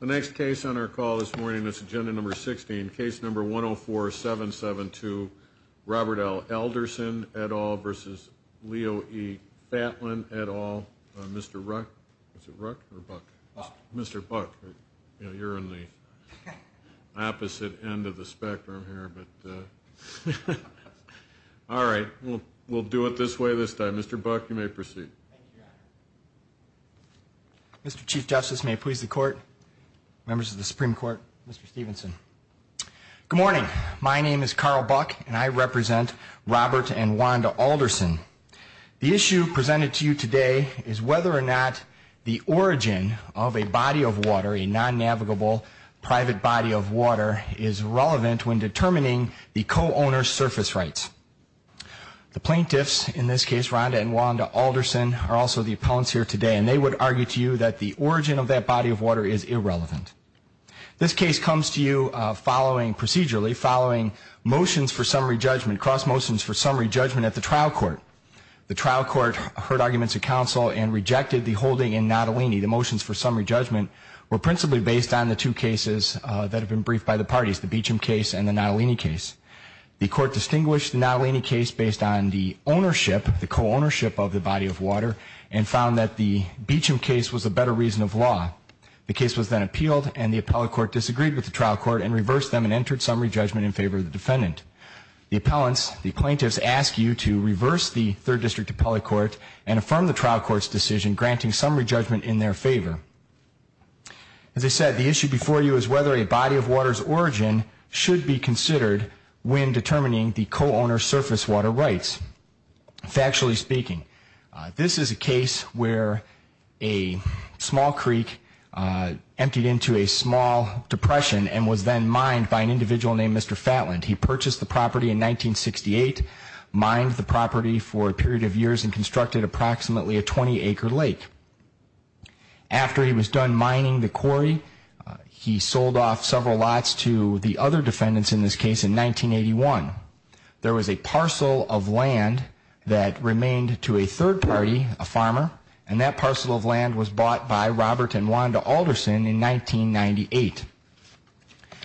The next case on our call this morning is Agenda No. 16, Case No. 104-772, Robert L. Elderson, et al. v. Leo E. Fatlan, et al. Mr. Ruck, is it Ruck or Buck? Buck. Mr. Buck, you're in the opposite end of the spectrum here, but all right, we'll do it this way this time. Mr. Buck, you may proceed. Thank you, Your Honor. Mr. Chief Justice, may it please the Court, members of the Supreme Court, Mr. Stevenson. Good morning. My name is Carl Buck, and I represent Robert and Wanda Alderson. The issue presented to you today is whether or not the origin of a body of water, a non-navigable private body of water, is relevant when determining the co-owner's surface rights. The plaintiffs, in this case Rhonda and Wanda Alderson, are also the appellants here today, and they would argue to you that the origin of that body of water is irrelevant. This case comes to you following procedurally, following motions for summary judgment, cross motions for summary judgment at the trial court. The trial court heard arguments of counsel and rejected the holding in Natalini. The motions for summary judgment were principally based on the two cases that have been briefed by the parties, the Beecham case and the Natalini case. The court distinguished the Natalini case based on the ownership, the co-ownership of the body of water, and found that the Beecham case was a better reason of law. The case was then appealed, and the appellate court disagreed with the trial court and reversed them and entered summary judgment in favor of the defendant. The appellants, the plaintiffs, ask you to reverse the third district appellate court and affirm the trial court's decision, granting summary judgment in their favor. As I said, the issue before you is whether a body of water's origin should be considered when determining the co-owner's surface water rights. Factually speaking, this is a case where a small creek emptied into a small depression and was then mined by an individual named Mr. Fatland. He purchased the property in 1968, mined the property for a period of years, and constructed approximately a 20-acre lake. After he was done mining the quarry, he sold off several lots to the other defendants in this case in 1981. There was a parcel of land that remained to a third party, a farmer, and that parcel of land was bought by Robert and Wanda Alderson in 1998.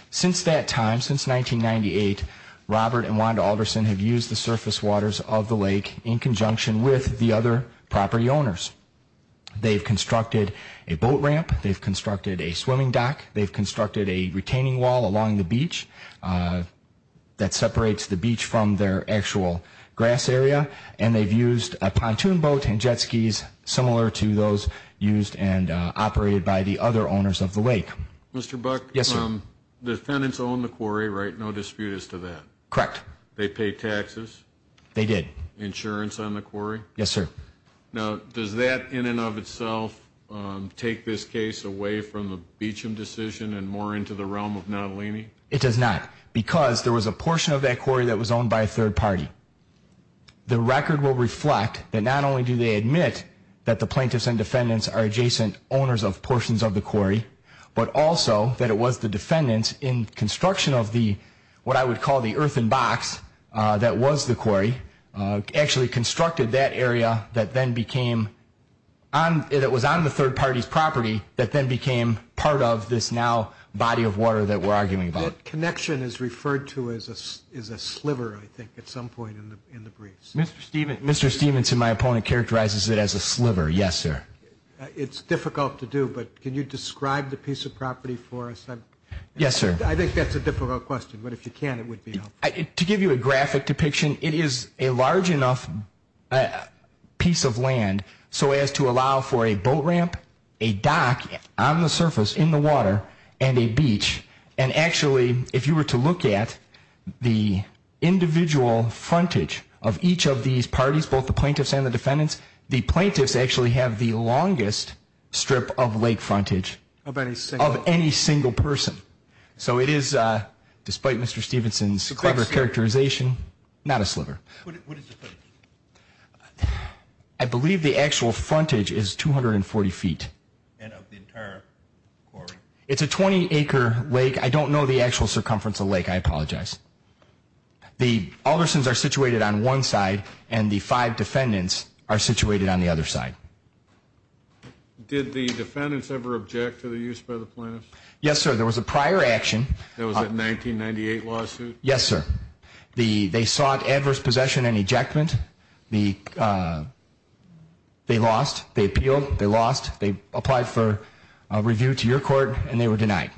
Since that time, since 1998, Robert and Wanda Alderson have used the surface waters of the lake in conjunction with the other property owners. They've constructed a boat ramp, they've constructed a swimming dock, they've constructed a retaining wall along the beach that separates the beach from their actual grass area, and they've used a pontoon boat and jet skis similar to those used and operated by the other owners of the lake. Mr. Buck? Yes, sir. The defendants owned the quarry, right? No dispute as to that? Correct. They paid taxes? They did. They paid insurance on the quarry? Yes, sir. Now, does that in and of itself take this case away from the Beecham decision and more into the realm of Nottolini? It does not, because there was a portion of that quarry that was owned by a third party. The record will reflect that not only do they admit that the plaintiffs and defendants are adjacent owners of portions of the quarry, but also that it was the defendants in construction of the, what I would call the earthen box that was the quarry, actually constructed that area that was on the third party's property that then became part of this now body of water that we're arguing about. That connection is referred to as a sliver, I think, at some point in the briefs. Mr. Stephenson, my opponent, characterizes it as a sliver. Yes, sir. It's difficult to do, but can you describe the piece of property for us? Yes, sir. I think that's a difficult question, but if you can, it would be helpful. To give you a graphic depiction, it is a large enough piece of land so as to allow for a boat ramp, a dock on the surface in the water, and a beach. And actually, if you were to look at the individual frontage of each of these parties, both the plaintiffs and the defendants, the plaintiffs actually have the longest strip of lake frontage of any single person. So it is, despite Mr. Stephenson's clever characterization, not a sliver. What is the frontage? I believe the actual frontage is 240 feet. And of the entire quarry? It's a 20-acre lake. I don't know the actual circumference of the lake. I apologize. The Aldersons are situated on one side, and the five defendants are situated on the other side. Did the defendants ever object to the use by the plaintiffs? Yes, sir. There was a prior action. Was it a 1998 lawsuit? Yes, sir. They sought adverse possession and ejectment. They lost. They appealed. They lost. They applied for review to your court, and they were denied.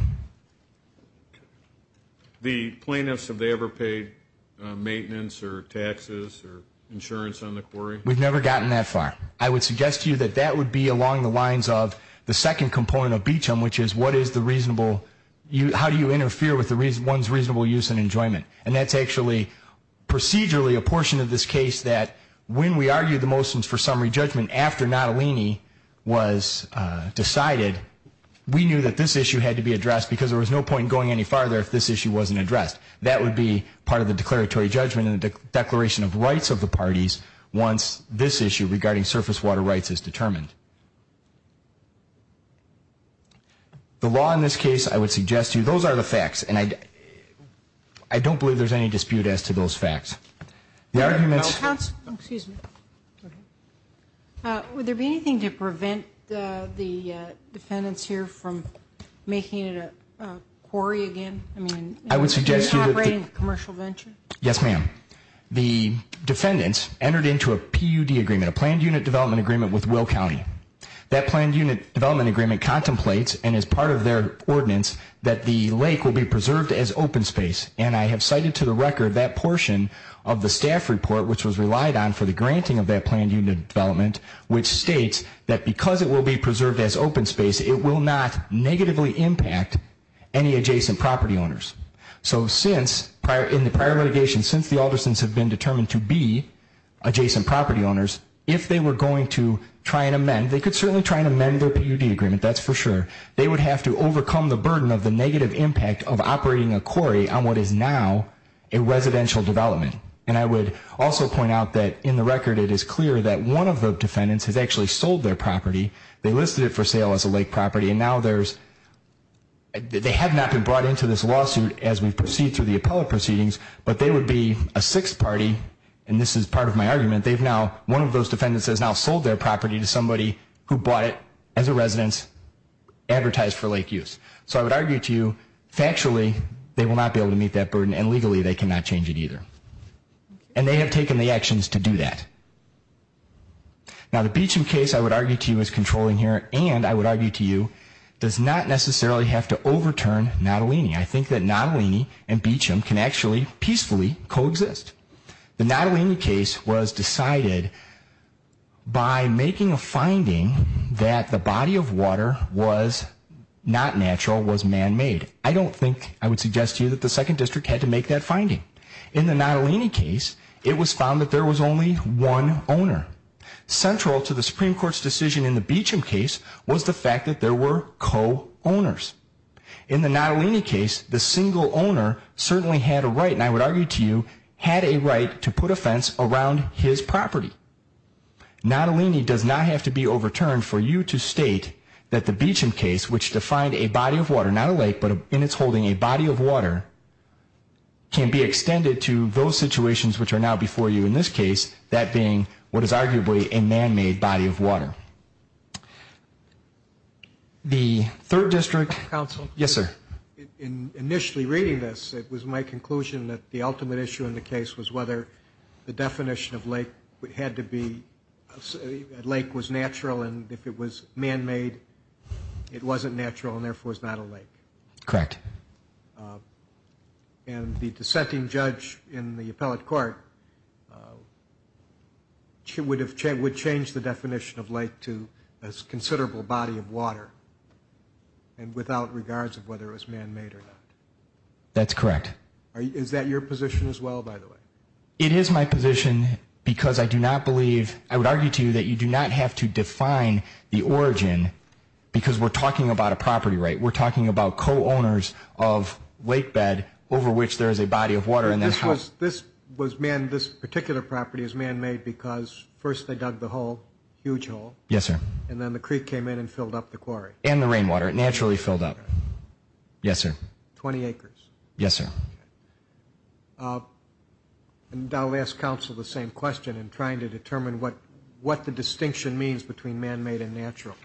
The plaintiffs, have they ever paid maintenance or taxes or insurance on the quarry? We've never gotten that far. I would suggest to you that that would be along the lines of the second component of Beecham, which is how do you interfere with one's reasonable use and enjoyment. And that's actually procedurally a portion of this case that when we argued the motions for summary judgment after Nottolini was decided, we knew that this issue had to be addressed, because there was no point in going any farther if this issue wasn't addressed. That would be part of the declaratory judgment in the Declaration of Rights of the Parties once this issue regarding surface water rights is determined. The law in this case, I would suggest to you, those are the facts, and I don't believe there's any dispute as to those facts. The arguments. Excuse me. Would there be anything to prevent the defendants here from making it a quarry again? I mean, operating a commercial venture? Yes, ma'am. The defendants entered into a PUD agreement, a planned unit development agreement, with Will County. That planned unit development agreement contemplates, and is part of their ordinance, that the lake will be preserved as open space. And I have cited to the record that portion of the staff report, which was relied on for the granting of that planned unit development, which states that because it will be preserved as open space, it will not negatively impact any adjacent property owners. So since, in the prior litigation, since the Aldersons have been determined to be adjacent property owners, if they were going to try and amend, they could certainly try and amend their PUD agreement, that's for sure. They would have to overcome the burden of the negative impact of operating a quarry on what is now a residential development. And I would also point out that in the record it is clear that one of the defendants has actually sold their property, they listed it for sale as a lake property, and now there's, they have not been brought into this lawsuit as we proceed through the appellate proceedings, but they would be a sixth party, and this is part of my argument, they've now, one of those defendants has now sold their property to somebody who bought it as a residence, advertised for lake use. So I would argue to you, factually, they will not be able to meet that burden, and legally they cannot change it either. And they have taken the actions to do that. Now the Beecham case I would argue to you is controlling here, and I would argue to you, does not necessarily have to overturn Natalini. I think that Natalini and Beecham can actually peacefully coexist. The Natalini case was decided by making a finding that the body of water was not natural, was man-made. I don't think, I would suggest to you that the Second District had to make that finding. In the Natalini case, it was found that there was only one owner. Central to the Supreme Court's decision in the Beecham case was the fact that there were co-owners. In the Natalini case, the single owner certainly had a right, and I would argue to you, had a right to put a fence around his property. Natalini does not have to be overturned for you to state that the Beecham case, which defined a body of water, not a lake, but in its holding a body of water, can be extended to those situations which are now before you in this case, that being what is arguably a man-made body of water. The Third District. Counsel. Yes, sir. In initially reading this, it was my conclusion that the ultimate issue in the case was whether the definition of lake had to be, lake was natural and if it was man-made, it wasn't natural and therefore was not a lake. Correct. And the dissenting judge in the appellate court would change the definition of lake to a considerable body of water, and without regards of whether it was man-made or not. That's correct. Is that your position as well, by the way? It is my position because I do not believe, I would argue to you that you do not have to define the origin because we're talking about a property right. We're talking about co-owners of lake bed over which there is a body of water. This particular property is man-made because first they dug the hole, huge hole. Yes, sir. And then the creek came in and filled up the quarry. And the rainwater. It naturally filled up. Yes, sir. 20 acres. Yes, sir. Okay. And I'll ask counsel the same question in trying to determine what the distinction means between man-made and natural.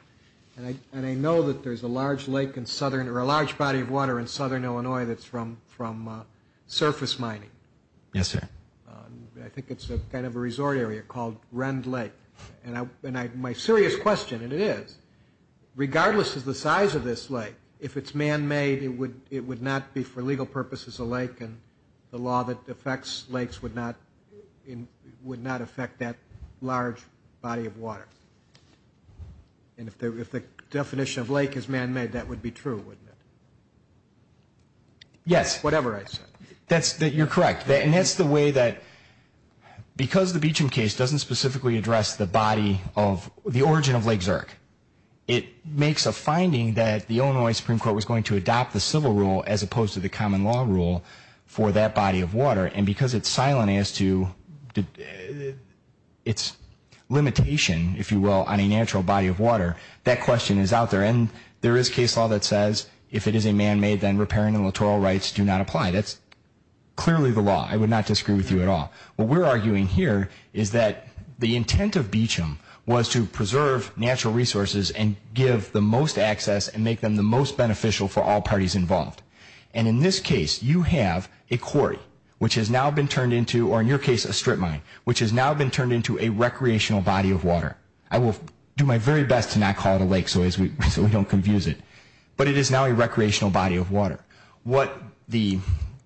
And I know that there's a large lake in southern, or a large body of water in southern Illinois that's from surface mining. Yes, sir. I think it's kind of a resort area called Rend Lake. And my serious question, and it is, regardless of the size of this lake, if it's man-made, it would not be for legal purposes a lake. And the law that affects lakes would not affect that large body of water. And if the definition of lake is man-made, that would be true, wouldn't it? Yes. Whatever I said. You're correct. And that's the way that because the Beecham case doesn't specifically address the body of the origin of Lake Zurich, it makes a finding that the Illinois Supreme Court was going to adopt the civil rule as opposed to the common law rule for that body of water. And because it's silent as to its limitation, if you will, on a natural body of water, that question is out there. And there is case law that says if it is a man-made, then repairing and littoral rights do not apply. That's clearly the law. I would not disagree with you at all. What we're arguing here is that the intent of Beecham was to preserve natural resources and give the most access and make them the most beneficial for all parties involved. And in this case, you have a quarry, which has now been turned into, or in your case, a strip mine, which has now been turned into a recreational body of water. I will do my very best to not call it a lake so we don't confuse it. But it is now a recreational body of water. What the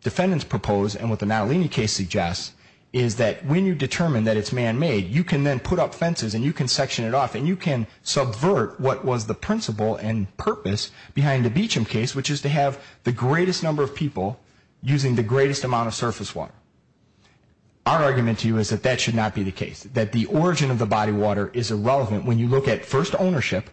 defendants propose and what the Natalini case suggests is that when you determine that it's man-made, you can then put up fences and you can section it off and you can subvert what was the principle and purpose behind the Beecham case, which is to have the greatest number of people using the greatest amount of surface water. Our argument to you is that that should not be the case, that the origin of the body of water is irrelevant when you look at first ownership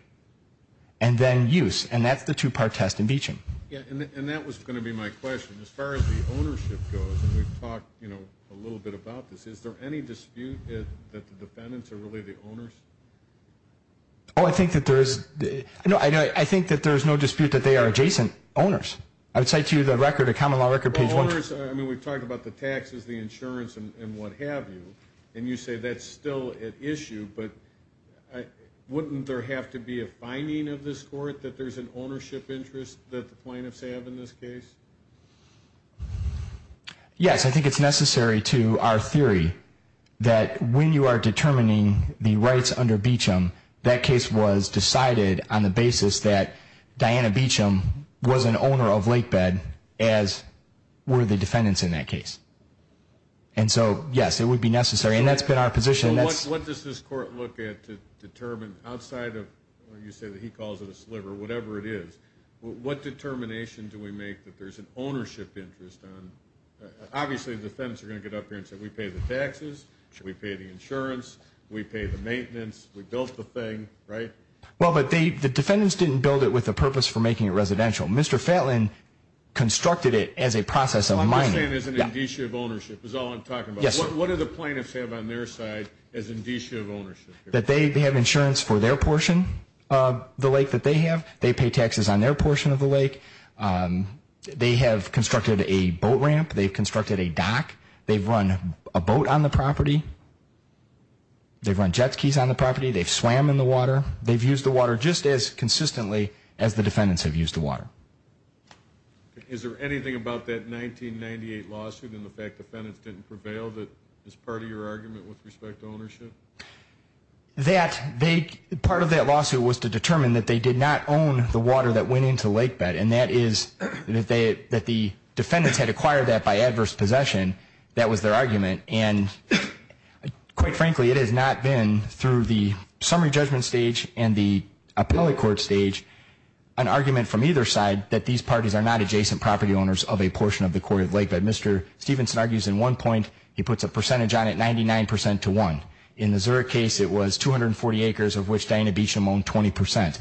and then use. And that's the two-part test in Beecham. Yeah, and that was going to be my question. As far as the ownership goes, and we've talked, you know, a little bit about this, is there any dispute that the defendants are really the owners? Oh, I think that there is. No, I think that there is no dispute that they are adjacent owners. I would cite to you the record, the common law record page 1. Well, owners, I mean, we've talked about the taxes, the insurance, and what have you, and you say that's still at issue, but wouldn't there have to be a finding of this court that there's an ownership interest that the plaintiffs have in this case? Yes, I think it's necessary to our theory that when you are determining the rights under Beecham, that case was decided on the basis that Diana Beecham was an owner of Lakebed, as were the defendants in that case. And so, yes, it would be necessary, and that's been our position. Well, what does this court look at to determine outside of, you say that he calls it a sliver, whatever it is, what determination do we make that there's an ownership interest? Obviously, the defendants are going to get up here and say, we pay the taxes, we pay the insurance, we pay the maintenance, we built the thing, right? Well, but the defendants didn't build it with a purpose for making it residential. Mr. Fetland constructed it as a process of mining. What I'm saying is an issue of ownership is all I'm talking about. Yes, sir. What do the plaintiffs have on their side as an issue of ownership? That they have insurance for their portion of the lake that they have. They pay taxes on their portion of the lake. They have constructed a boat ramp. They've constructed a dock. They've run a boat on the property. They've run jet skis on the property. They've swam in the water. They've used the water just as consistently as the defendants have used the water. Is there anything about that 1998 lawsuit and the fact defendants didn't prevail that is part of your argument with respect to ownership? Part of that lawsuit was to determine that they did not own the water that went into Lake Bed, and that is that the defendants had acquired that by adverse possession. That was their argument, and quite frankly, it has not been through the summary judgment stage and the appellate court stage, an argument from either side that these parties are not adjacent property owners of a portion of the Quarry Lake that Mr. Stephenson argues in one point. He puts a percentage on it, 99% to 1. In the Zurich case, it was 240 acres of which Diana Beacham owned 20%.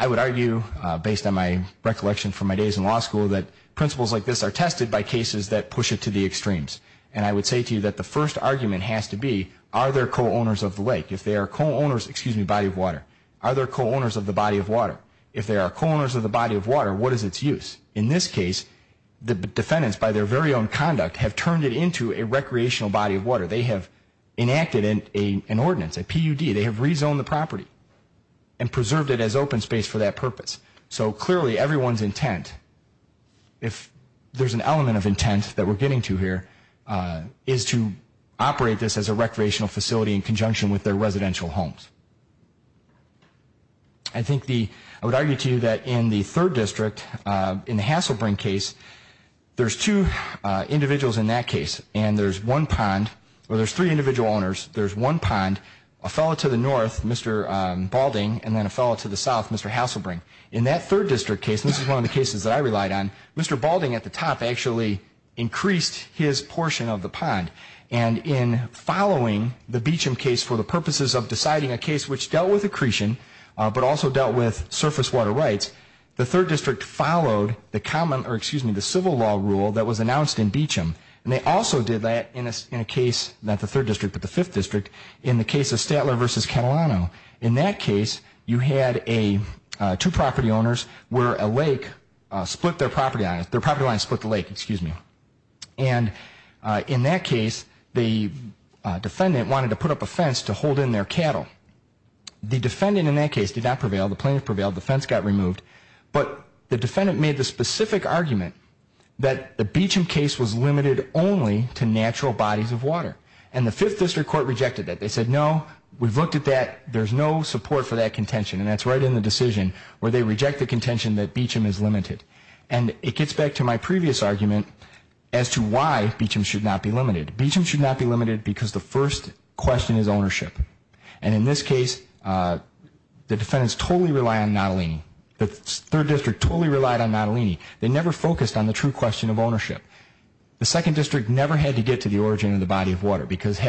I would argue, based on my recollection from my days in law school, that principles like this are tested by cases that push it to the extremes, and I would say to you that the first argument has to be, are there co-owners of the lake? If they are co-owners, excuse me, body of water. Are there co-owners of the body of water? If there are co-owners of the body of water, what is its use? In this case, the defendants, by their very own conduct, have turned it into a recreational body of water. They have enacted an ordinance, a PUD. They have rezoned the property and preserved it as open space for that purpose. So clearly everyone's intent, if there's an element of intent that we're getting to here, is to operate this as a recreational facility in conjunction with their residential homes. I think the, I would argue to you that in the third district, in the Hasselbring case, there's two individuals in that case, and there's one pond, or there's three individual owners, there's one pond, a fellow to the north, Mr. Balding, and then a fellow to the south, Mr. Hasselbring. In that third district case, and this is one of the cases that I relied on, Mr. Balding at the top actually increased his portion of the pond. And in following the Beecham case for the purposes of deciding a case which dealt with accretion, but also dealt with surface water rights, the third district followed the common, or excuse me, the civil law rule that was announced in Beecham. And they also did that in a case, not the third district, but the fifth district, in the case of Statler v. Catalano. In that case, you had two property owners where a lake split their property, their property line split the lake, excuse me. And in that case, the defendant wanted to put up a fence to hold in their cattle. The defendant in that case did not prevail, the plaintiff prevailed, the fence got removed. But the defendant made the specific argument that the Beecham case was limited only to natural bodies of water. And the fifth district court rejected that. They said, no, we've looked at that, there's no support for that contention. And that's right in the decision where they reject the contention that Beecham is limited. And it gets back to my previous argument as to why Beecham should not be limited. Beecham should not be limited because the first question is ownership. And in this case, the defendants totally rely on Nottolini. The third district totally relied on Nottolini. They never focused on the true question of ownership. Because had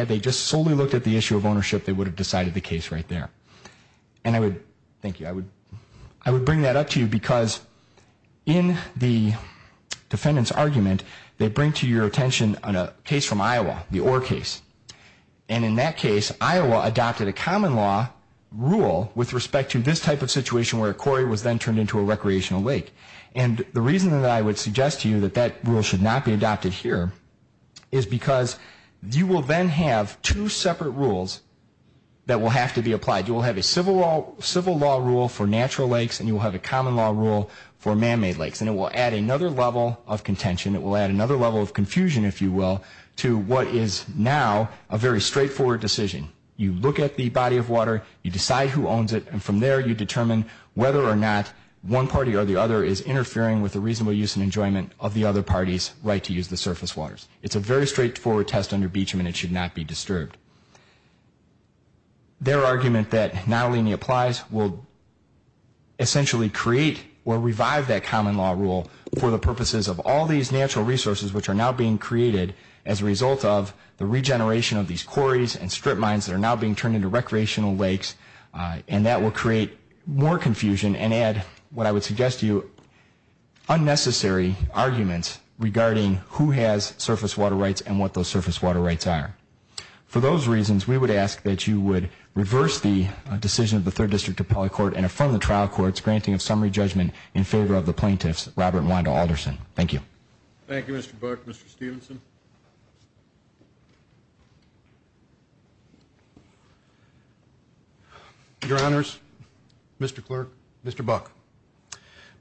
they just solely looked at the issue of ownership, they would have decided the case right there. And I would, thank you, I would bring that up to you because in the defendant's argument, they bring to your attention a case from Iowa, the Ore case. And in that case, Iowa adopted a common law rule with respect to this type of situation where a quarry was then turned into a recreational lake. And the reason that I would suggest to you that that rule should not be adopted here is because you will then have two separate rules that will have to be applied. You will have a civil law rule for natural lakes, and you will have a common law rule for man-made lakes. And it will add another level of contention. It will add another level of confusion, if you will, to what is now a very straightforward decision. You look at the body of water. You decide who owns it. And from there, you determine whether or not one party or the other is interfering with the reasonable use and enjoyment of the other party's right to use the surface waters. It's a very straightforward test under Beecham, and it should not be disturbed. Their argument that non-linear applies will essentially create or revive that common law rule for the purposes of all these natural resources which are now being created as a result of the regeneration of these quarries and strip mines that are now being turned into recreational lakes. And that will create more confusion and add, what I would suggest to you, unnecessary arguments regarding who has surface water rights and what those surface water rights are. For those reasons, we would ask that you would reverse the decision of the Third District Appellate Court and affirm the trial court's granting of summary judgment in favor of the plaintiffs, Robert and Wanda Alderson. Thank you. Thank you, Mr. Burke. Mr. Stephenson. Your Honors, Mr. Clerk, Mr. Burke,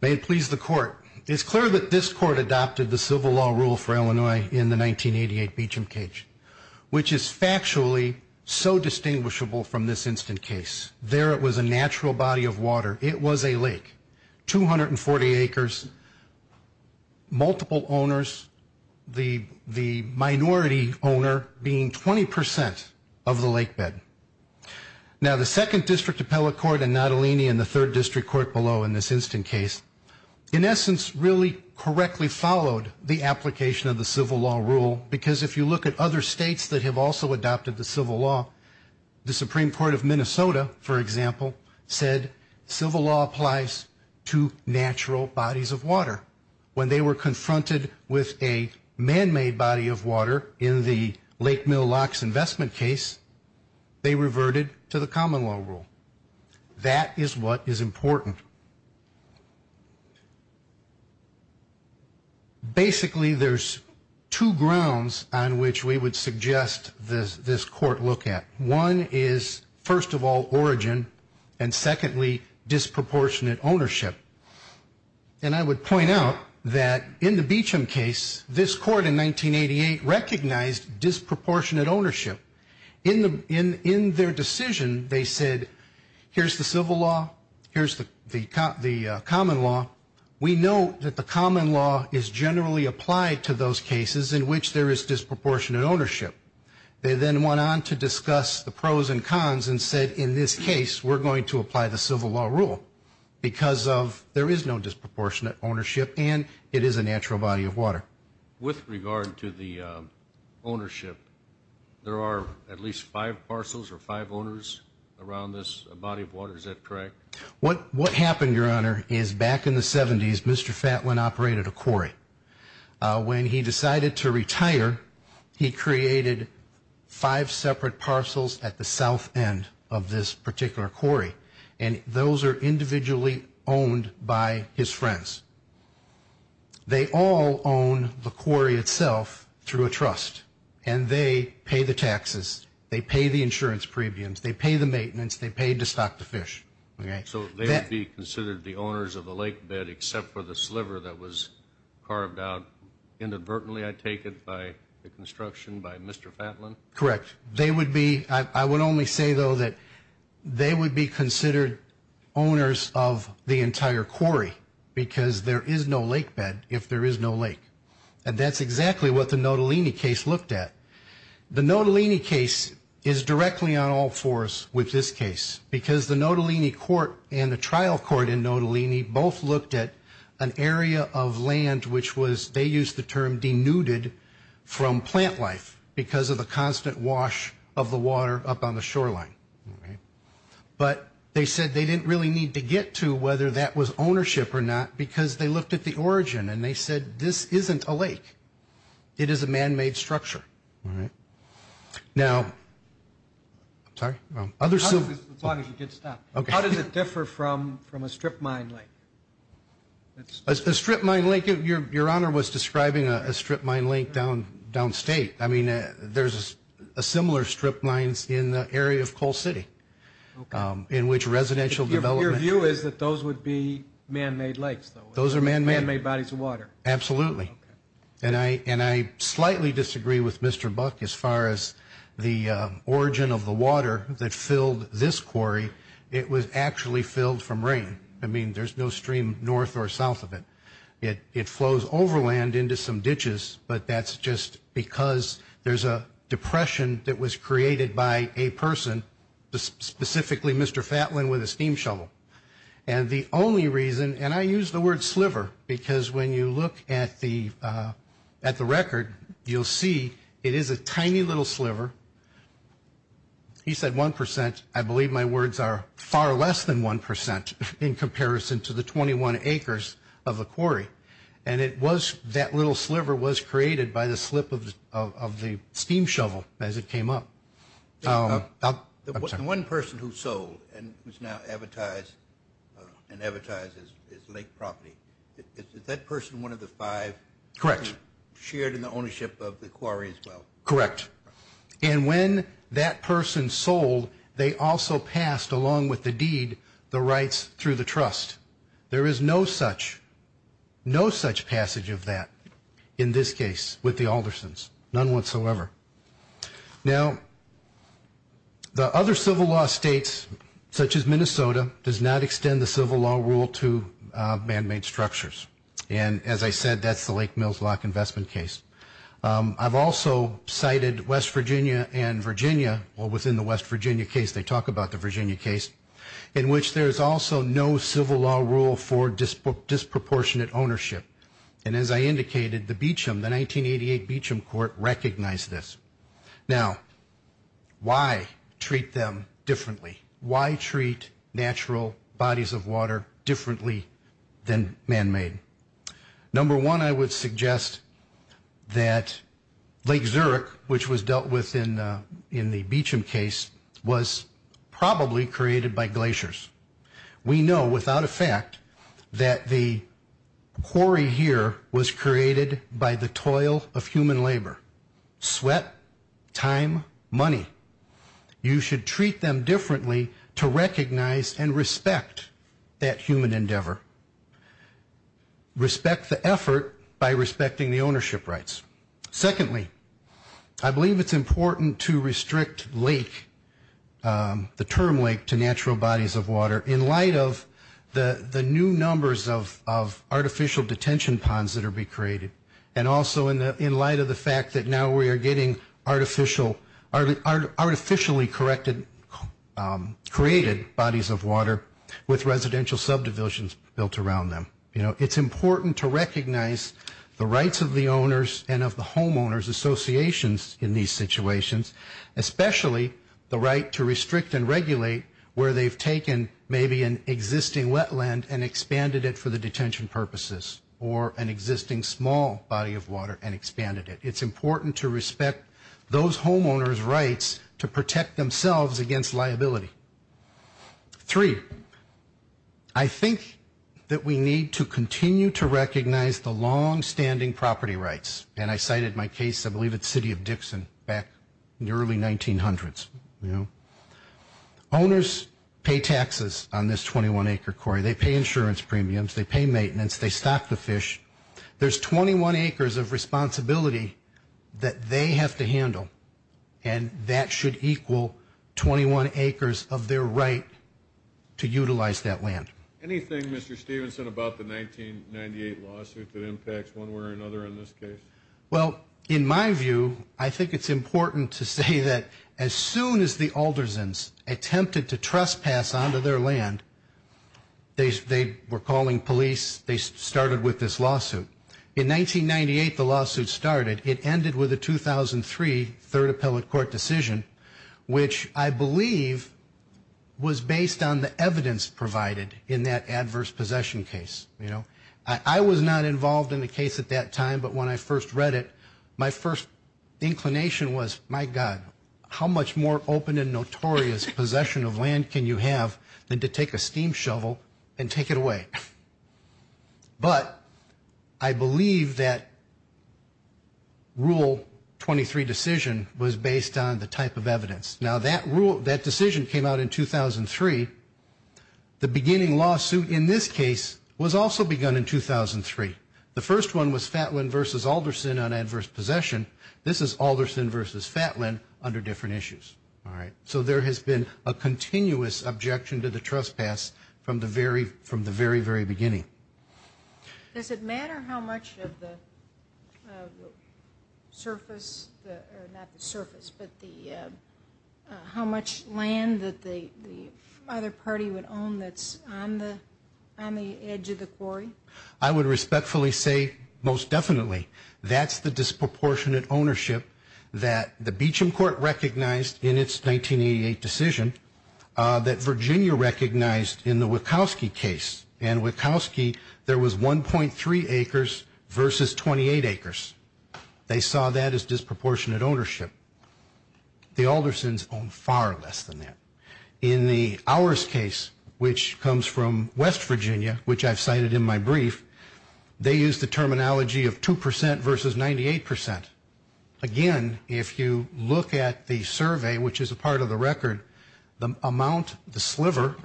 may it please the Court, it's clear that this Court adopted the civil law rule for Illinois in the 1988 Beecham Cage, which is factually so distinguishable from this instant case. There it was a natural body of water. It was a lake. Two hundred and forty acres, multiple owners, the minority owner being 20% of the lake bed. Now, the Second District Appellate Court and Natalini and the Third District Court below in this instant case, in essence, really correctly followed the application of the civil law rule because if you look at other states that have also adopted the civil law, the Supreme Court of Minnesota, for example, said civil law applies to natural bodies of water. When they were confronted with a man-made body of water in the Lake Mill Locks investment case, they reverted to the common law rule. That is what is important. Basically, there's two grounds on which we would suggest this Court look at. One is, first of all, origin, and secondly, disproportionate ownership. And I would point out that in the Beecham case, this Court in 1988 recognized disproportionate ownership. In their decision, they said, here's the civil law, here's the common law. We know that the common law is generally applied to those cases in which there is disproportionate ownership. They then went on to discuss the pros and cons and said, in this case, we're going to apply the civil law rule because there is no disproportionate ownership and it is a natural body of water. With regard to the ownership, there are at least five parcels or five owners around this body of water. Is that correct? What happened, Your Honor, is back in the 70s, Mr. Fatlin operated a quarry. When he decided to retire, he created five separate parcels at the south end of this particular quarry, and those are individually owned by his friends. They all own the quarry itself through a trust, and they pay the taxes. They pay the insurance premiums. They pay the maintenance. They pay to stock the fish. So they would be considered the owners of the lake bed except for the sliver that was carved out, inadvertently I take it, by the construction by Mr. Fatlin? Correct. I would only say, though, that they would be considered owners of the entire quarry because there is no lake bed if there is no lake. And that's exactly what the Nottolini case looked at. The Nottolini case is directly on all fours with this case because the Nottolini court and the trial court in Nottolini both looked at an area of land which was, they used the term, denuded from plant life because of the constant wash of the water up on the shoreline. But they said they didn't really need to get to whether that was ownership or not because they looked at the origin, and they said this isn't a lake. It is a manmade structure. All right. Now, I'm sorry? As long as you did stop. How does it differ from a strip mine lake? A strip mine lake? Your Honor was describing a strip mine lake downstate. I mean, there's a similar strip mine in the area of Cole City in which residential development. Your view is that those would be manmade lakes, though? Those are manmade. Manmade bodies of water. Absolutely. And I slightly disagree with Mr. Buck as far as the origin of the water that filled this quarry. It was actually filled from rain. I mean, there's no stream north or south of it. It flows overland into some ditches, but that's just because there's a depression that was created by a person, specifically Mr. Fatlin with a steam shovel. And the only reason, and I use the word sliver because when you look at the record, you'll see it is a tiny little sliver. He said 1%. I believe my words are far less than 1% in comparison to the 21 acres of the quarry. And it was that little sliver was created by the slip of the steam shovel as it came up. The one person who sold and who's now advertised as lake property, is that person one of the five? Correct. Shared in the ownership of the quarry as well? Correct. And when that person sold, they also passed, along with the deed, the rights through the trust. There is no such passage of that in this case with the Aldersons. None whatsoever. Now, the other civil law states, such as Minnesota, does not extend the civil law rule to man-made structures. And as I said, that's the Lake Mills Lock Investment case. I've also cited West Virginia and Virginia, or within the West Virginia case, they talk about the Virginia case, in which there is also no civil law rule for disproportionate ownership. And as I indicated, the Beecham, the 1988 Beecham Court, recognized this. Now, why treat them differently? Why treat natural bodies of water differently than man-made? Number one, I would suggest that Lake Zurich, which was dealt with in the Beecham case, was probably created by glaciers. We know without a fact that the quarry here was created by the toil of human labor. Sweat, time, money. You should treat them differently to recognize and respect that human endeavor. Respect the effort by respecting the ownership rights. Secondly, I believe it's important to restrict lake, the term lake, to natural bodies of water, in light of the new numbers of artificial detention ponds that are being created, and also in light of the fact that now we are getting artificially created bodies of water with residential subdivisions built around them. You know, it's important to recognize the rights of the owners and of the homeowners' associations in these situations, especially the right to restrict and regulate where they've taken maybe an existing wetland and expanded it for the detention purposes, or an existing small body of water and expanded it. It's important to respect those homeowners' rights to protect themselves against liability. Three, I think that we need to continue to recognize the longstanding property rights, and I cited my case, I believe, at the city of Dixon back in the early 1900s. Owners pay taxes on this 21-acre quarry. They pay insurance premiums. They pay maintenance. They stock the fish. There's 21 acres of responsibility that they have to handle, and that should equal 21 acres of their right to utilize that land. Anything, Mr. Stevenson, about the 1998 lawsuit that impacts one way or another in this case? Well, in my view, I think it's important to say that as soon as the Aldersons attempted to trespass onto their land, they were calling police. They started with this lawsuit. In 1998, the lawsuit started. It ended with a 2003 Third Appellate Court decision, which I believe was based on the evidence provided in that adverse possession case. I was not involved in the case at that time, but when I first read it, my first inclination was, my God, how much more open and notorious possession of land can you have than to take a steam shovel and take it away? But I believe that Rule 23 decision was based on the type of evidence. Now, that decision came out in 2003. The beginning lawsuit in this case was also begun in 2003. The first one was Fatlin v. Alderson on adverse possession. This is Alderson v. Fatlin under different issues. So there has been a continuous objection to the trespass from the very, very beginning. Does it matter how much of the surface, or not the surface, but how much land that the other party would own that's on the edge of the quarry? I would respectfully say most definitely. That's the disproportionate ownership that the Beecham Court recognized in its 1988 decision, that Virginia recognized in the Wachowski case. And Wachowski, there was 1.3 acres versus 28 acres. They saw that as disproportionate ownership. The Aldersons owned far less than that. In the Ours case, which comes from West Virginia, which I've cited in my brief, they used the terminology of 2% versus 98%. Again, if you look at the survey, which is a part of the record, the amount, the sliver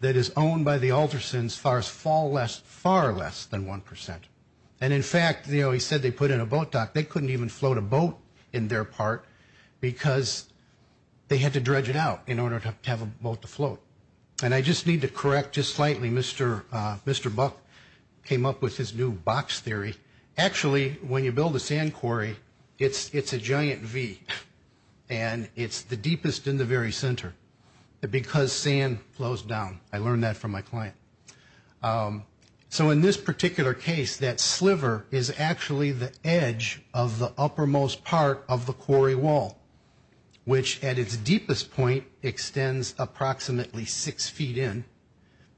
that is owned by the Aldersons far less than 1%. And, in fact, you know, he said they put in a boat dock. They couldn't even float a boat in their part because they had to dredge it out in order to have a boat to float. And I just need to correct just slightly. Mr. Buck came up with his new box theory. Actually, when you build a sand quarry, it's a giant V. And it's the deepest in the very center because sand flows down. I learned that from my client. So in this particular case, that sliver is actually the edge of the uppermost part of the quarry wall, which at its deepest point extends approximately six feet in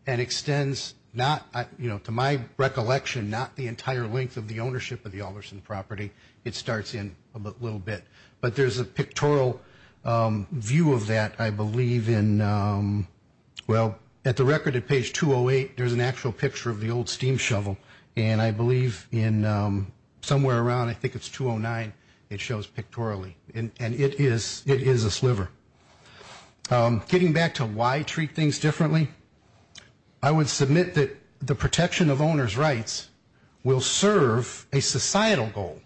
and extends not, you know, to my recollection, not the entire length of the ownership of the Alderson property. It starts in a little bit. But there's a pictorial view of that, I believe, in, well, at the record at page 208, there's an actual picture of the old steam shovel. And I believe in somewhere around, I think it's 209, it shows pictorially. And it is a sliver. Getting back to why treat things differently, I would submit that the protection of owner's rights will serve a societal goal.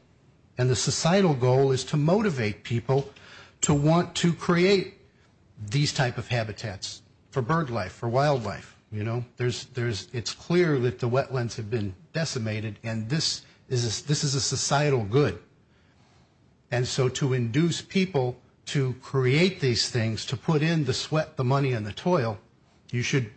And the societal goal is to motivate people to want to create these type of habitats for bird life, for wildlife. You know, it's clear that the wetlands have been decimated, and this is a societal good. And so to induce people to create these things, to put in the sweat, the money, and the toil, you should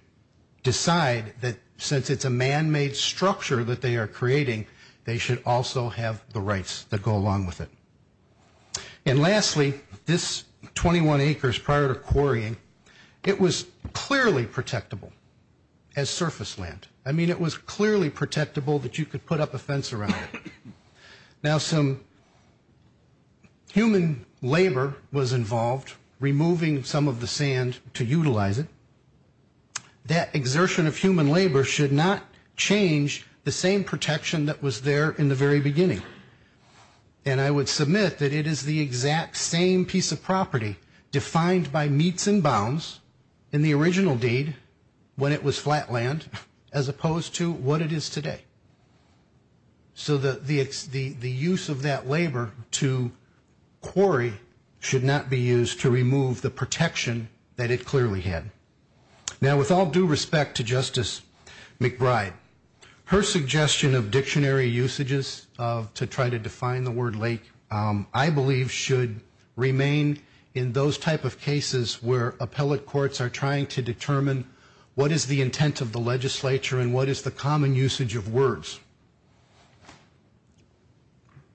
decide that since it's a man-made structure that they are creating, they should also have the rights that go along with it. And lastly, this 21 acres prior to quarrying, it was clearly protectable as surface land. I mean, it was clearly protectable that you could put up a fence around it. Now, some human labor was involved, removing some of the sand to utilize it. That exertion of human labor should not change the same protection that was there in the very beginning. And I would submit that it is the exact same piece of property defined by meets and bounds in the original deed, when it was flat land, as opposed to what it is today. So the use of that labor to quarry should not be used to remove the protection that it clearly had. Now, with all due respect to Justice McBride, her suggestion of dictionary usages to try to define the word lake, I believe should remain in those type of cases where appellate courts are trying to determine what is the intent of the legislature and what is the common usage of words.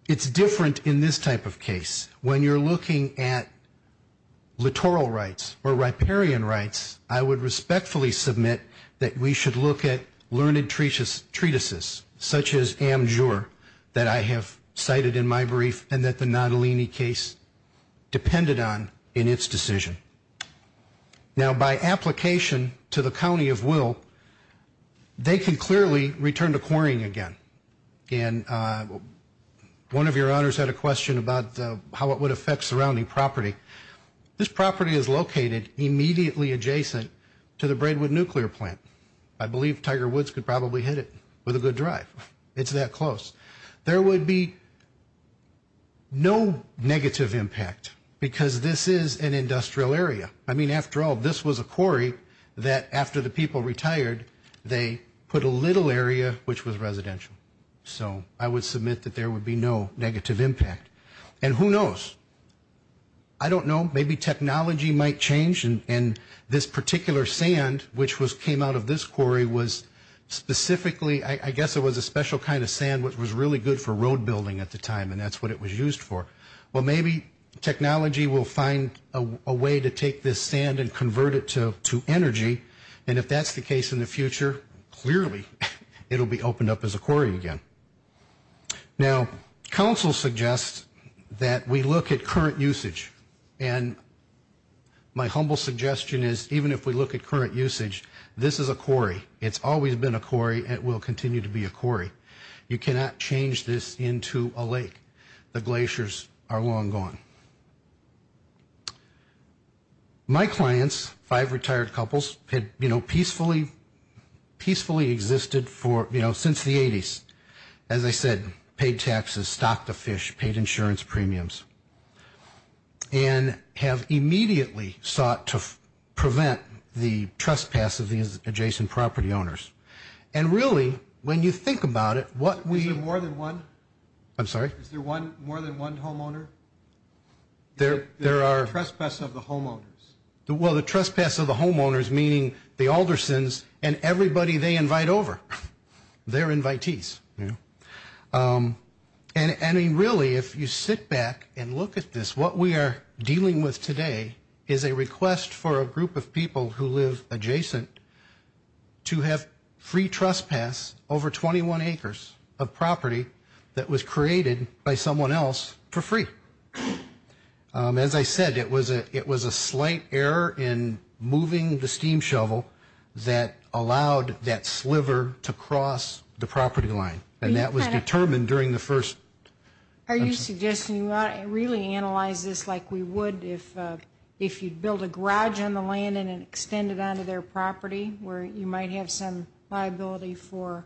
It's different in this type of case. When you're looking at littoral rights or riparian rights, I would respectfully submit that we should look at learned treatises, such as Amjur, that I have cited in my brief and that the Natalini case depended on in its decision. Now, by application to the county of Will, they can clearly return to quarrying again. And one of your honors had a question about how it would affect surrounding property. This property is located immediately adjacent to the Braidwood Nuclear Plant. I believe Tiger Woods could probably hit it with a good drive. It's that close. There would be no negative impact because this is an industrial area. I mean, after all, this was a quarry that after the people retired, they put a little area which was residential. So I would submit that there would be no negative impact. And who knows? I don't know. Maybe technology might change and this particular sand which came out of this quarry was specifically, I guess it was a special kind of sand which was really good for road building at the time, and that's what it was used for. Well, maybe technology will find a way to take this sand and convert it to energy, and if that's the case in the future, clearly it will be opened up as a quarry again. Now, council suggests that we look at current usage, and my humble suggestion is even if we look at current usage, this is a quarry. It's always been a quarry. It will continue to be a quarry. You cannot change this into a lake. The glaciers are long gone. My clients, five retired couples, had, you know, peacefully existed for, you know, since the 80s. As I said, paid taxes, stocked the fish, paid insurance premiums, and have immediately sought to prevent the trespass of the adjacent property owners. And really, when you think about it, what we. Is there more than one? I'm sorry? Is there more than one homeowner? There are. The trespass of the homeowners. Well, the trespass of the homeowners, meaning the Aldersons and everybody they invite over. They're invitees, you know. And I mean, really, if you sit back and look at this, what we are dealing with today is a request for a group of people who live adjacent to have free trespass over 21 acres of property that was created by someone else for free. As I said, it was a slight error in moving the steam shovel that allowed that sliver to cross the property line, and that was determined during the first. Are you suggesting you really analyze this like we would if you'd build a garage on the land and extend it onto their property where you might have some liability for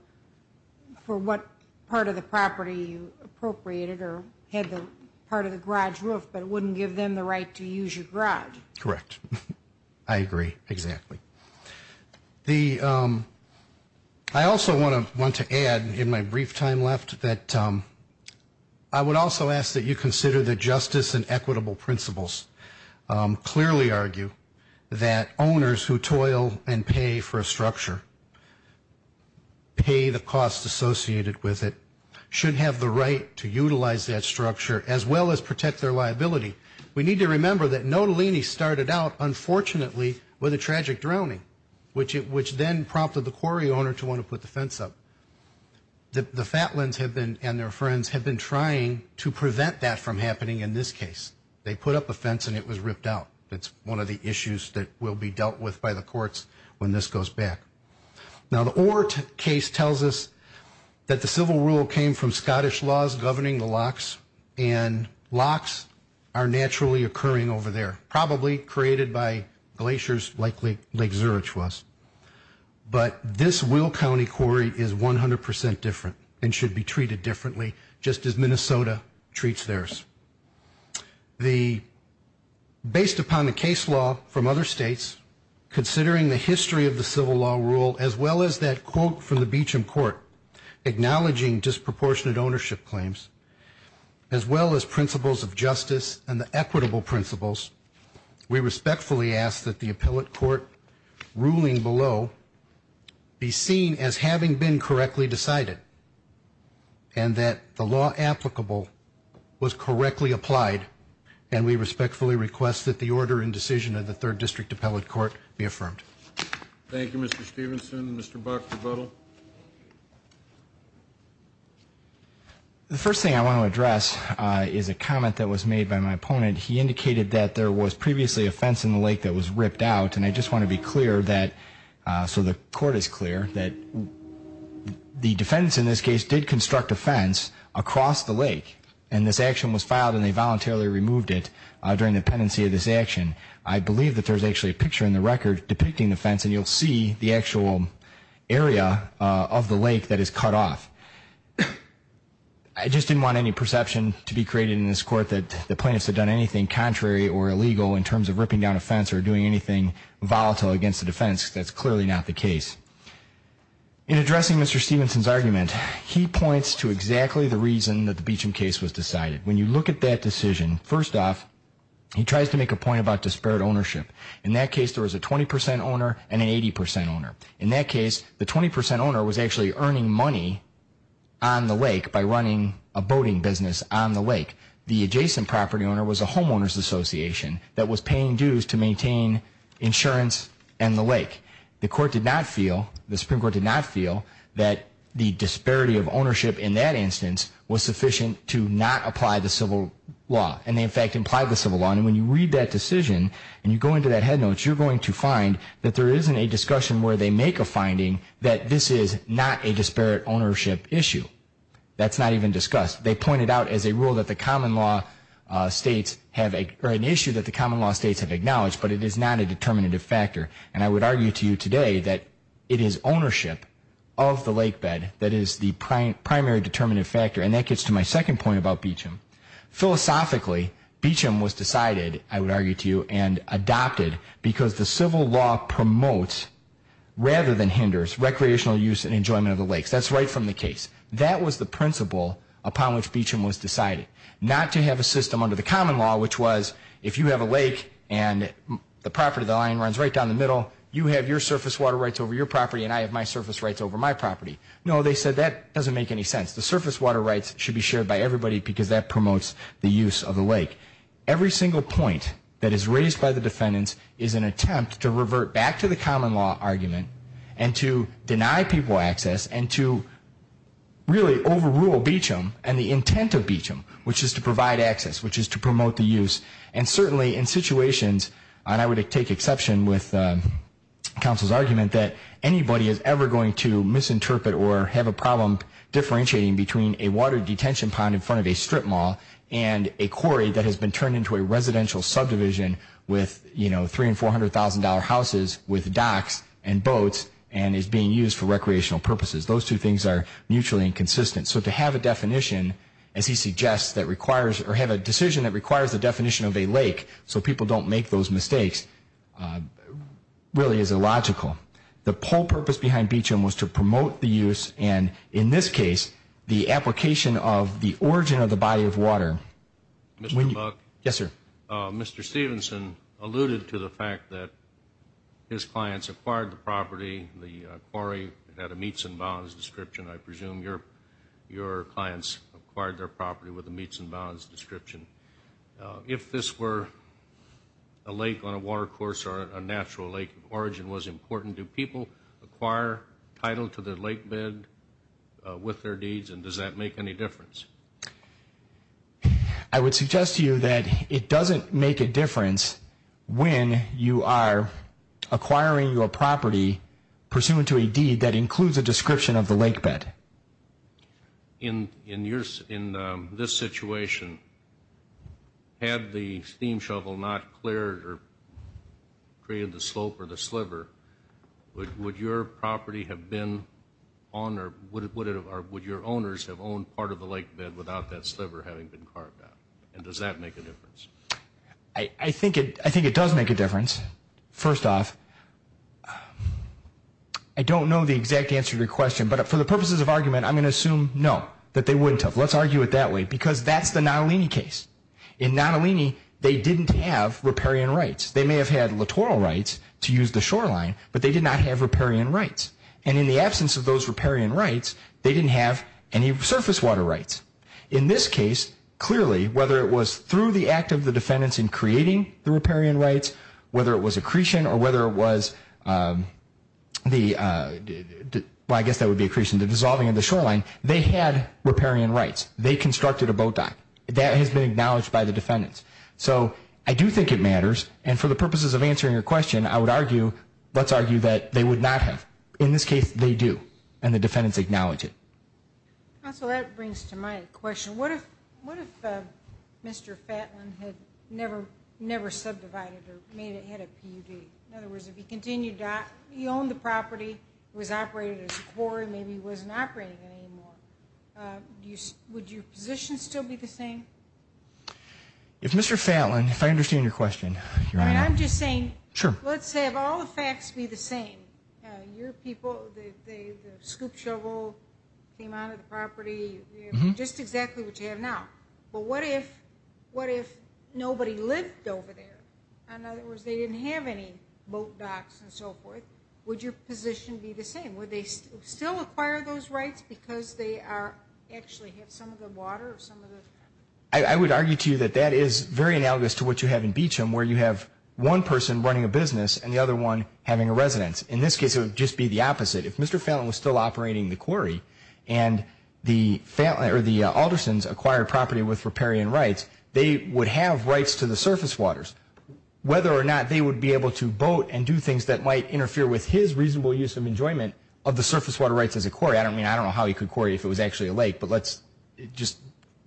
what part of the property you appropriated or had the part of the garage roof, but it wouldn't give them the right to use your garage? Correct. I agree. Exactly. I also want to add in my brief time left that I would also ask that you consider the justice and equitable principles. Clearly argue that owners who toil and pay for a structure, pay the costs associated with it, should have the right to utilize that structure as well as protect their liability. We need to remember that Nottolini started out, unfortunately, with a tragic drowning, which then prompted the quarry owner to want to put the fence up. The Fatlands and their friends have been trying to prevent that from happening in this case. They put up a fence and it was ripped out. It's one of the issues that will be dealt with by the courts when this goes back. Now, the Orr case tells us that the civil rule came from Scottish laws governing the locks, and locks are naturally occurring over there, probably created by glaciers like Lake Zurich was. But this Will County quarry is 100% different and should be treated differently, just as Minnesota treats theirs. Based upon the case law from other states, considering the history of the civil law rule, as well as that quote from the Beecham Court acknowledging disproportionate ownership claims, as well as principles of justice and the equitable principles, we respectfully ask that the appellate court ruling below be seen as having been correctly decided, and that the law applicable was correctly applied, and we respectfully request that the order and decision of the 3rd District Appellate Court be affirmed. Thank you, Mr. Stevenson. Mr. Buck, rebuttal? The first thing I want to address is a comment that was made by my opponent. He indicated that there was previously a fence in the lake that was ripped out, and I just want to be clear that, so the court is clear, that the defendants in this case did construct a fence across the lake, and this action was filed and they voluntarily removed it during the pendency of this action. I believe that there's actually a picture in the record depicting the fence, and you'll see the actual area of the lake that is cut off. I just didn't want any perception to be created in this court that the plaintiffs had done anything contrary or illegal in terms of ripping down a fence or doing anything volatile against the defense. That's clearly not the case. In addressing Mr. Stevenson's argument, he points to exactly the reason that the Beecham case was decided. When you look at that decision, first off, he tries to make a point about disparate ownership. In that case, there was a 20% owner and an 80% owner. In that case, the 20% owner was actually earning money on the lake by running a boating business on the lake. The adjacent property owner was a homeowners association that was paying dues to maintain insurance and the lake. The Supreme Court did not feel that the disparity of ownership in that instance was sufficient to not apply the civil law. And they, in fact, implied the civil law. And when you read that decision and you go into that head notes, you're going to find that there isn't a discussion where they make a finding that this is not a disparate ownership issue. That's not even discussed. They pointed out as a rule that the common law states have an issue that the common law states have acknowledged, but it is not a determinative factor. And I would argue to you today that it is ownership of the lake bed that is the primary determinative factor. And that gets to my second point about Beecham. Philosophically, Beecham was decided, I would argue to you, and adopted because the civil law promotes rather than hinders recreational use and enjoyment of the lakes. That's right from the case. That was the principle upon which Beecham was decided, not to have a system under the common law, which was if you have a lake and the property of the lion runs right down the middle, you have your surface water rights over your property and I have my surface rights over my property. No, they said that doesn't make any sense. The surface water rights should be shared by everybody because that promotes the use of the lake. Every single point that is raised by the defendants is an attempt to revert back to the common law argument and to deny people access and to really overrule Beecham and the intent of Beecham, which is to provide access, which is to promote the use. And certainly in situations, and I would take exception with counsel's argument, that anybody is ever going to misinterpret or have a problem differentiating between a water detention pond in front of a strip mall and a quarry that has been turned into a residential subdivision with $300,000 and $400,000 houses with docks and boats and is being used for recreational purposes. Those two things are mutually inconsistent. So to have a definition, as he suggests, that requires or have a decision that requires the definition of a lake so people don't make those mistakes really is illogical. The whole purpose behind Beecham was to promote the use and, in this case, the application of the origin of the body of water. Mr. Buck? Yes, sir. Mr. Stevenson alluded to the fact that his clients acquired the property, the quarry had a meets and bounds description. I presume your clients acquired their property with a meets and bounds description. If this were a lake on a water course or a natural lake, origin was important. Do people acquire title to their lake bed with their deeds, and does that make any difference? I would suggest to you that it doesn't make a difference when you are acquiring your property pursuant to a deed that includes a description of the lake bed. In this situation, had the steam shovel not cleared or created the slope or the sliver, would your property have been on or would your owners have owned part of the lake bed without that sliver having been carved out, and does that make a difference? I think it does make a difference. First off, I don't know the exact answer to your question, but for the purposes of argument, I'm going to assume no, that they wouldn't have. Let's argue it that way because that's the Nottolini case. In Nottolini, they didn't have riparian rights. They may have had littoral rights to use the shoreline, but they did not have riparian rights. And in the absence of those riparian rights, they didn't have any surface water rights. In this case, clearly, whether it was through the act of the defendants in creating the riparian rights, whether it was accretion or whether it was the, well, I guess that would be accretion, the dissolving of the shoreline, they had riparian rights. They constructed a boat dock. That has been acknowledged by the defendants. So I do think it matters, and for the purposes of answering your question, I would argue, let's argue that they would not have. In this case, they do, and the defendants acknowledge it. So that brings to my question. What if Mr. Fatlin had never subdivided or made ahead of PUD? In other words, if he continued, he owned the property, it was operated as a quarry, maybe he wasn't operating it anymore, would your position still be the same? If Mr. Fatlin, if I understand your question, Your Honor. I'm just saying, let's have all the facts be the same. Your people, the scoop shovel came out of the property, just exactly what you have now. But what if nobody lived over there? In other words, they didn't have any boat docks and so forth. Would your position be the same? Would they still acquire those rights because they actually have some of the water? I would argue to you that that is very analogous to what you have in Beecham, where you have one person running a business and the other one having a residence. In this case, it would just be the opposite. If Mr. Fatlin was still operating the quarry and the Aldersons acquired property with riparian rights, they would have rights to the surface waters. Whether or not they would be able to boat and do things that might interfere with his reasonable use of enjoyment of the surface water rights as a quarry, I don't know how he could quarry if it was actually a lake, but let's just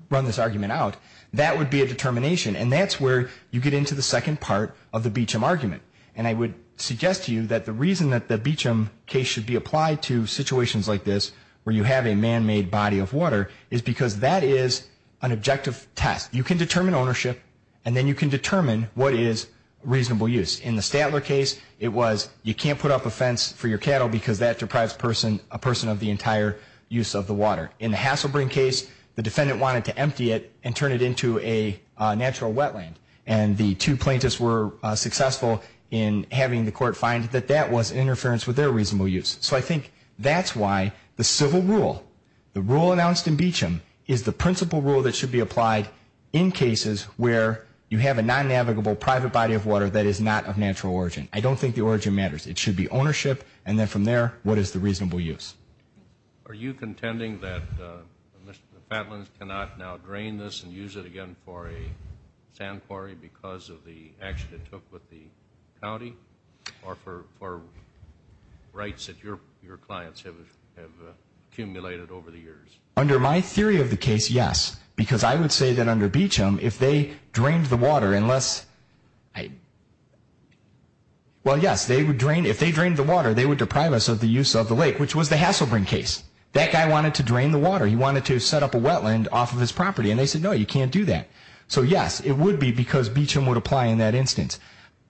run this argument out. That would be a determination, and that's where you get into the second part of the Beecham argument. And I would suggest to you that the reason that the Beecham case should be applied to situations like this, where you have a man-made body of water, is because that is an objective test. You can determine ownership, and then you can determine what is reasonable use. In the Statler case, it was you can't put up a fence for your cattle because that deprives a person of the entire use of the water. In the Hasselbrin case, the defendant wanted to empty it and turn it into a natural wetland, and the two plaintiffs were successful in having the court find that that was interference with their reasonable use. So I think that's why the civil rule, the rule announced in Beecham, is the principal rule that should be applied in cases where you have a non-navigable private body of water that is not of natural origin. I don't think the origin matters. It should be ownership, and then from there, what is the reasonable use. Are you contending that the Fatlands cannot now drain this and use it again for a sand quarry because of the action it took with the county or for rights that your clients have accumulated over the years? Under my theory of the case, yes, because I would say that under Beecham, if they drained the water unless, well, yes, if they drained the water, they would deprive us of the use of the lake, which was the Hasselbrin case. That guy wanted to drain the water. He wanted to set up a wetland off of his property, and they said, no, you can't do that. So, yes, it would be because Beecham would apply in that instance.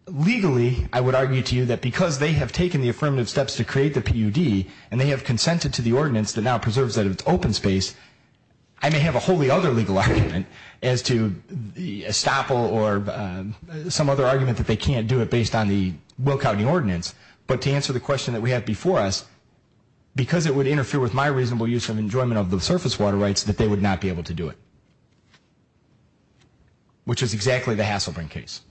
Legally, I would argue to you that because they have taken the affirmative steps to create the PUD and they have consented to the ordinance that now preserves that open space, I may have a wholly other legal argument as to the estoppel or some other argument that they can't do it based on the Will County Ordinance. But to answer the question that we have before us, because it would interfere with my reasonable use of enjoyment of the surface water rights, that they would not be able to do it, which is exactly the Hasselbrin case.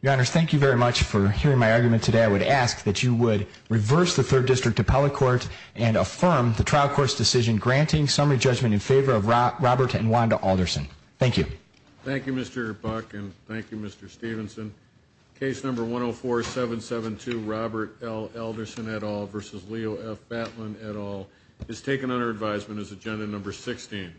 Your Honor, thank you very much for hearing my argument today. I would ask that you would reverse the Third District Appellate Court and affirm the trial court's decision granting summary judgment in favor of Robert and Wanda Alderson. Thank you. Thank you, Mr. Buck, and thank you, Mr. Stevenson. Case number 104-772, Robert L. Alderson et al. v. Leo F. Batlin et al. is taken under advisement as agenda number 16.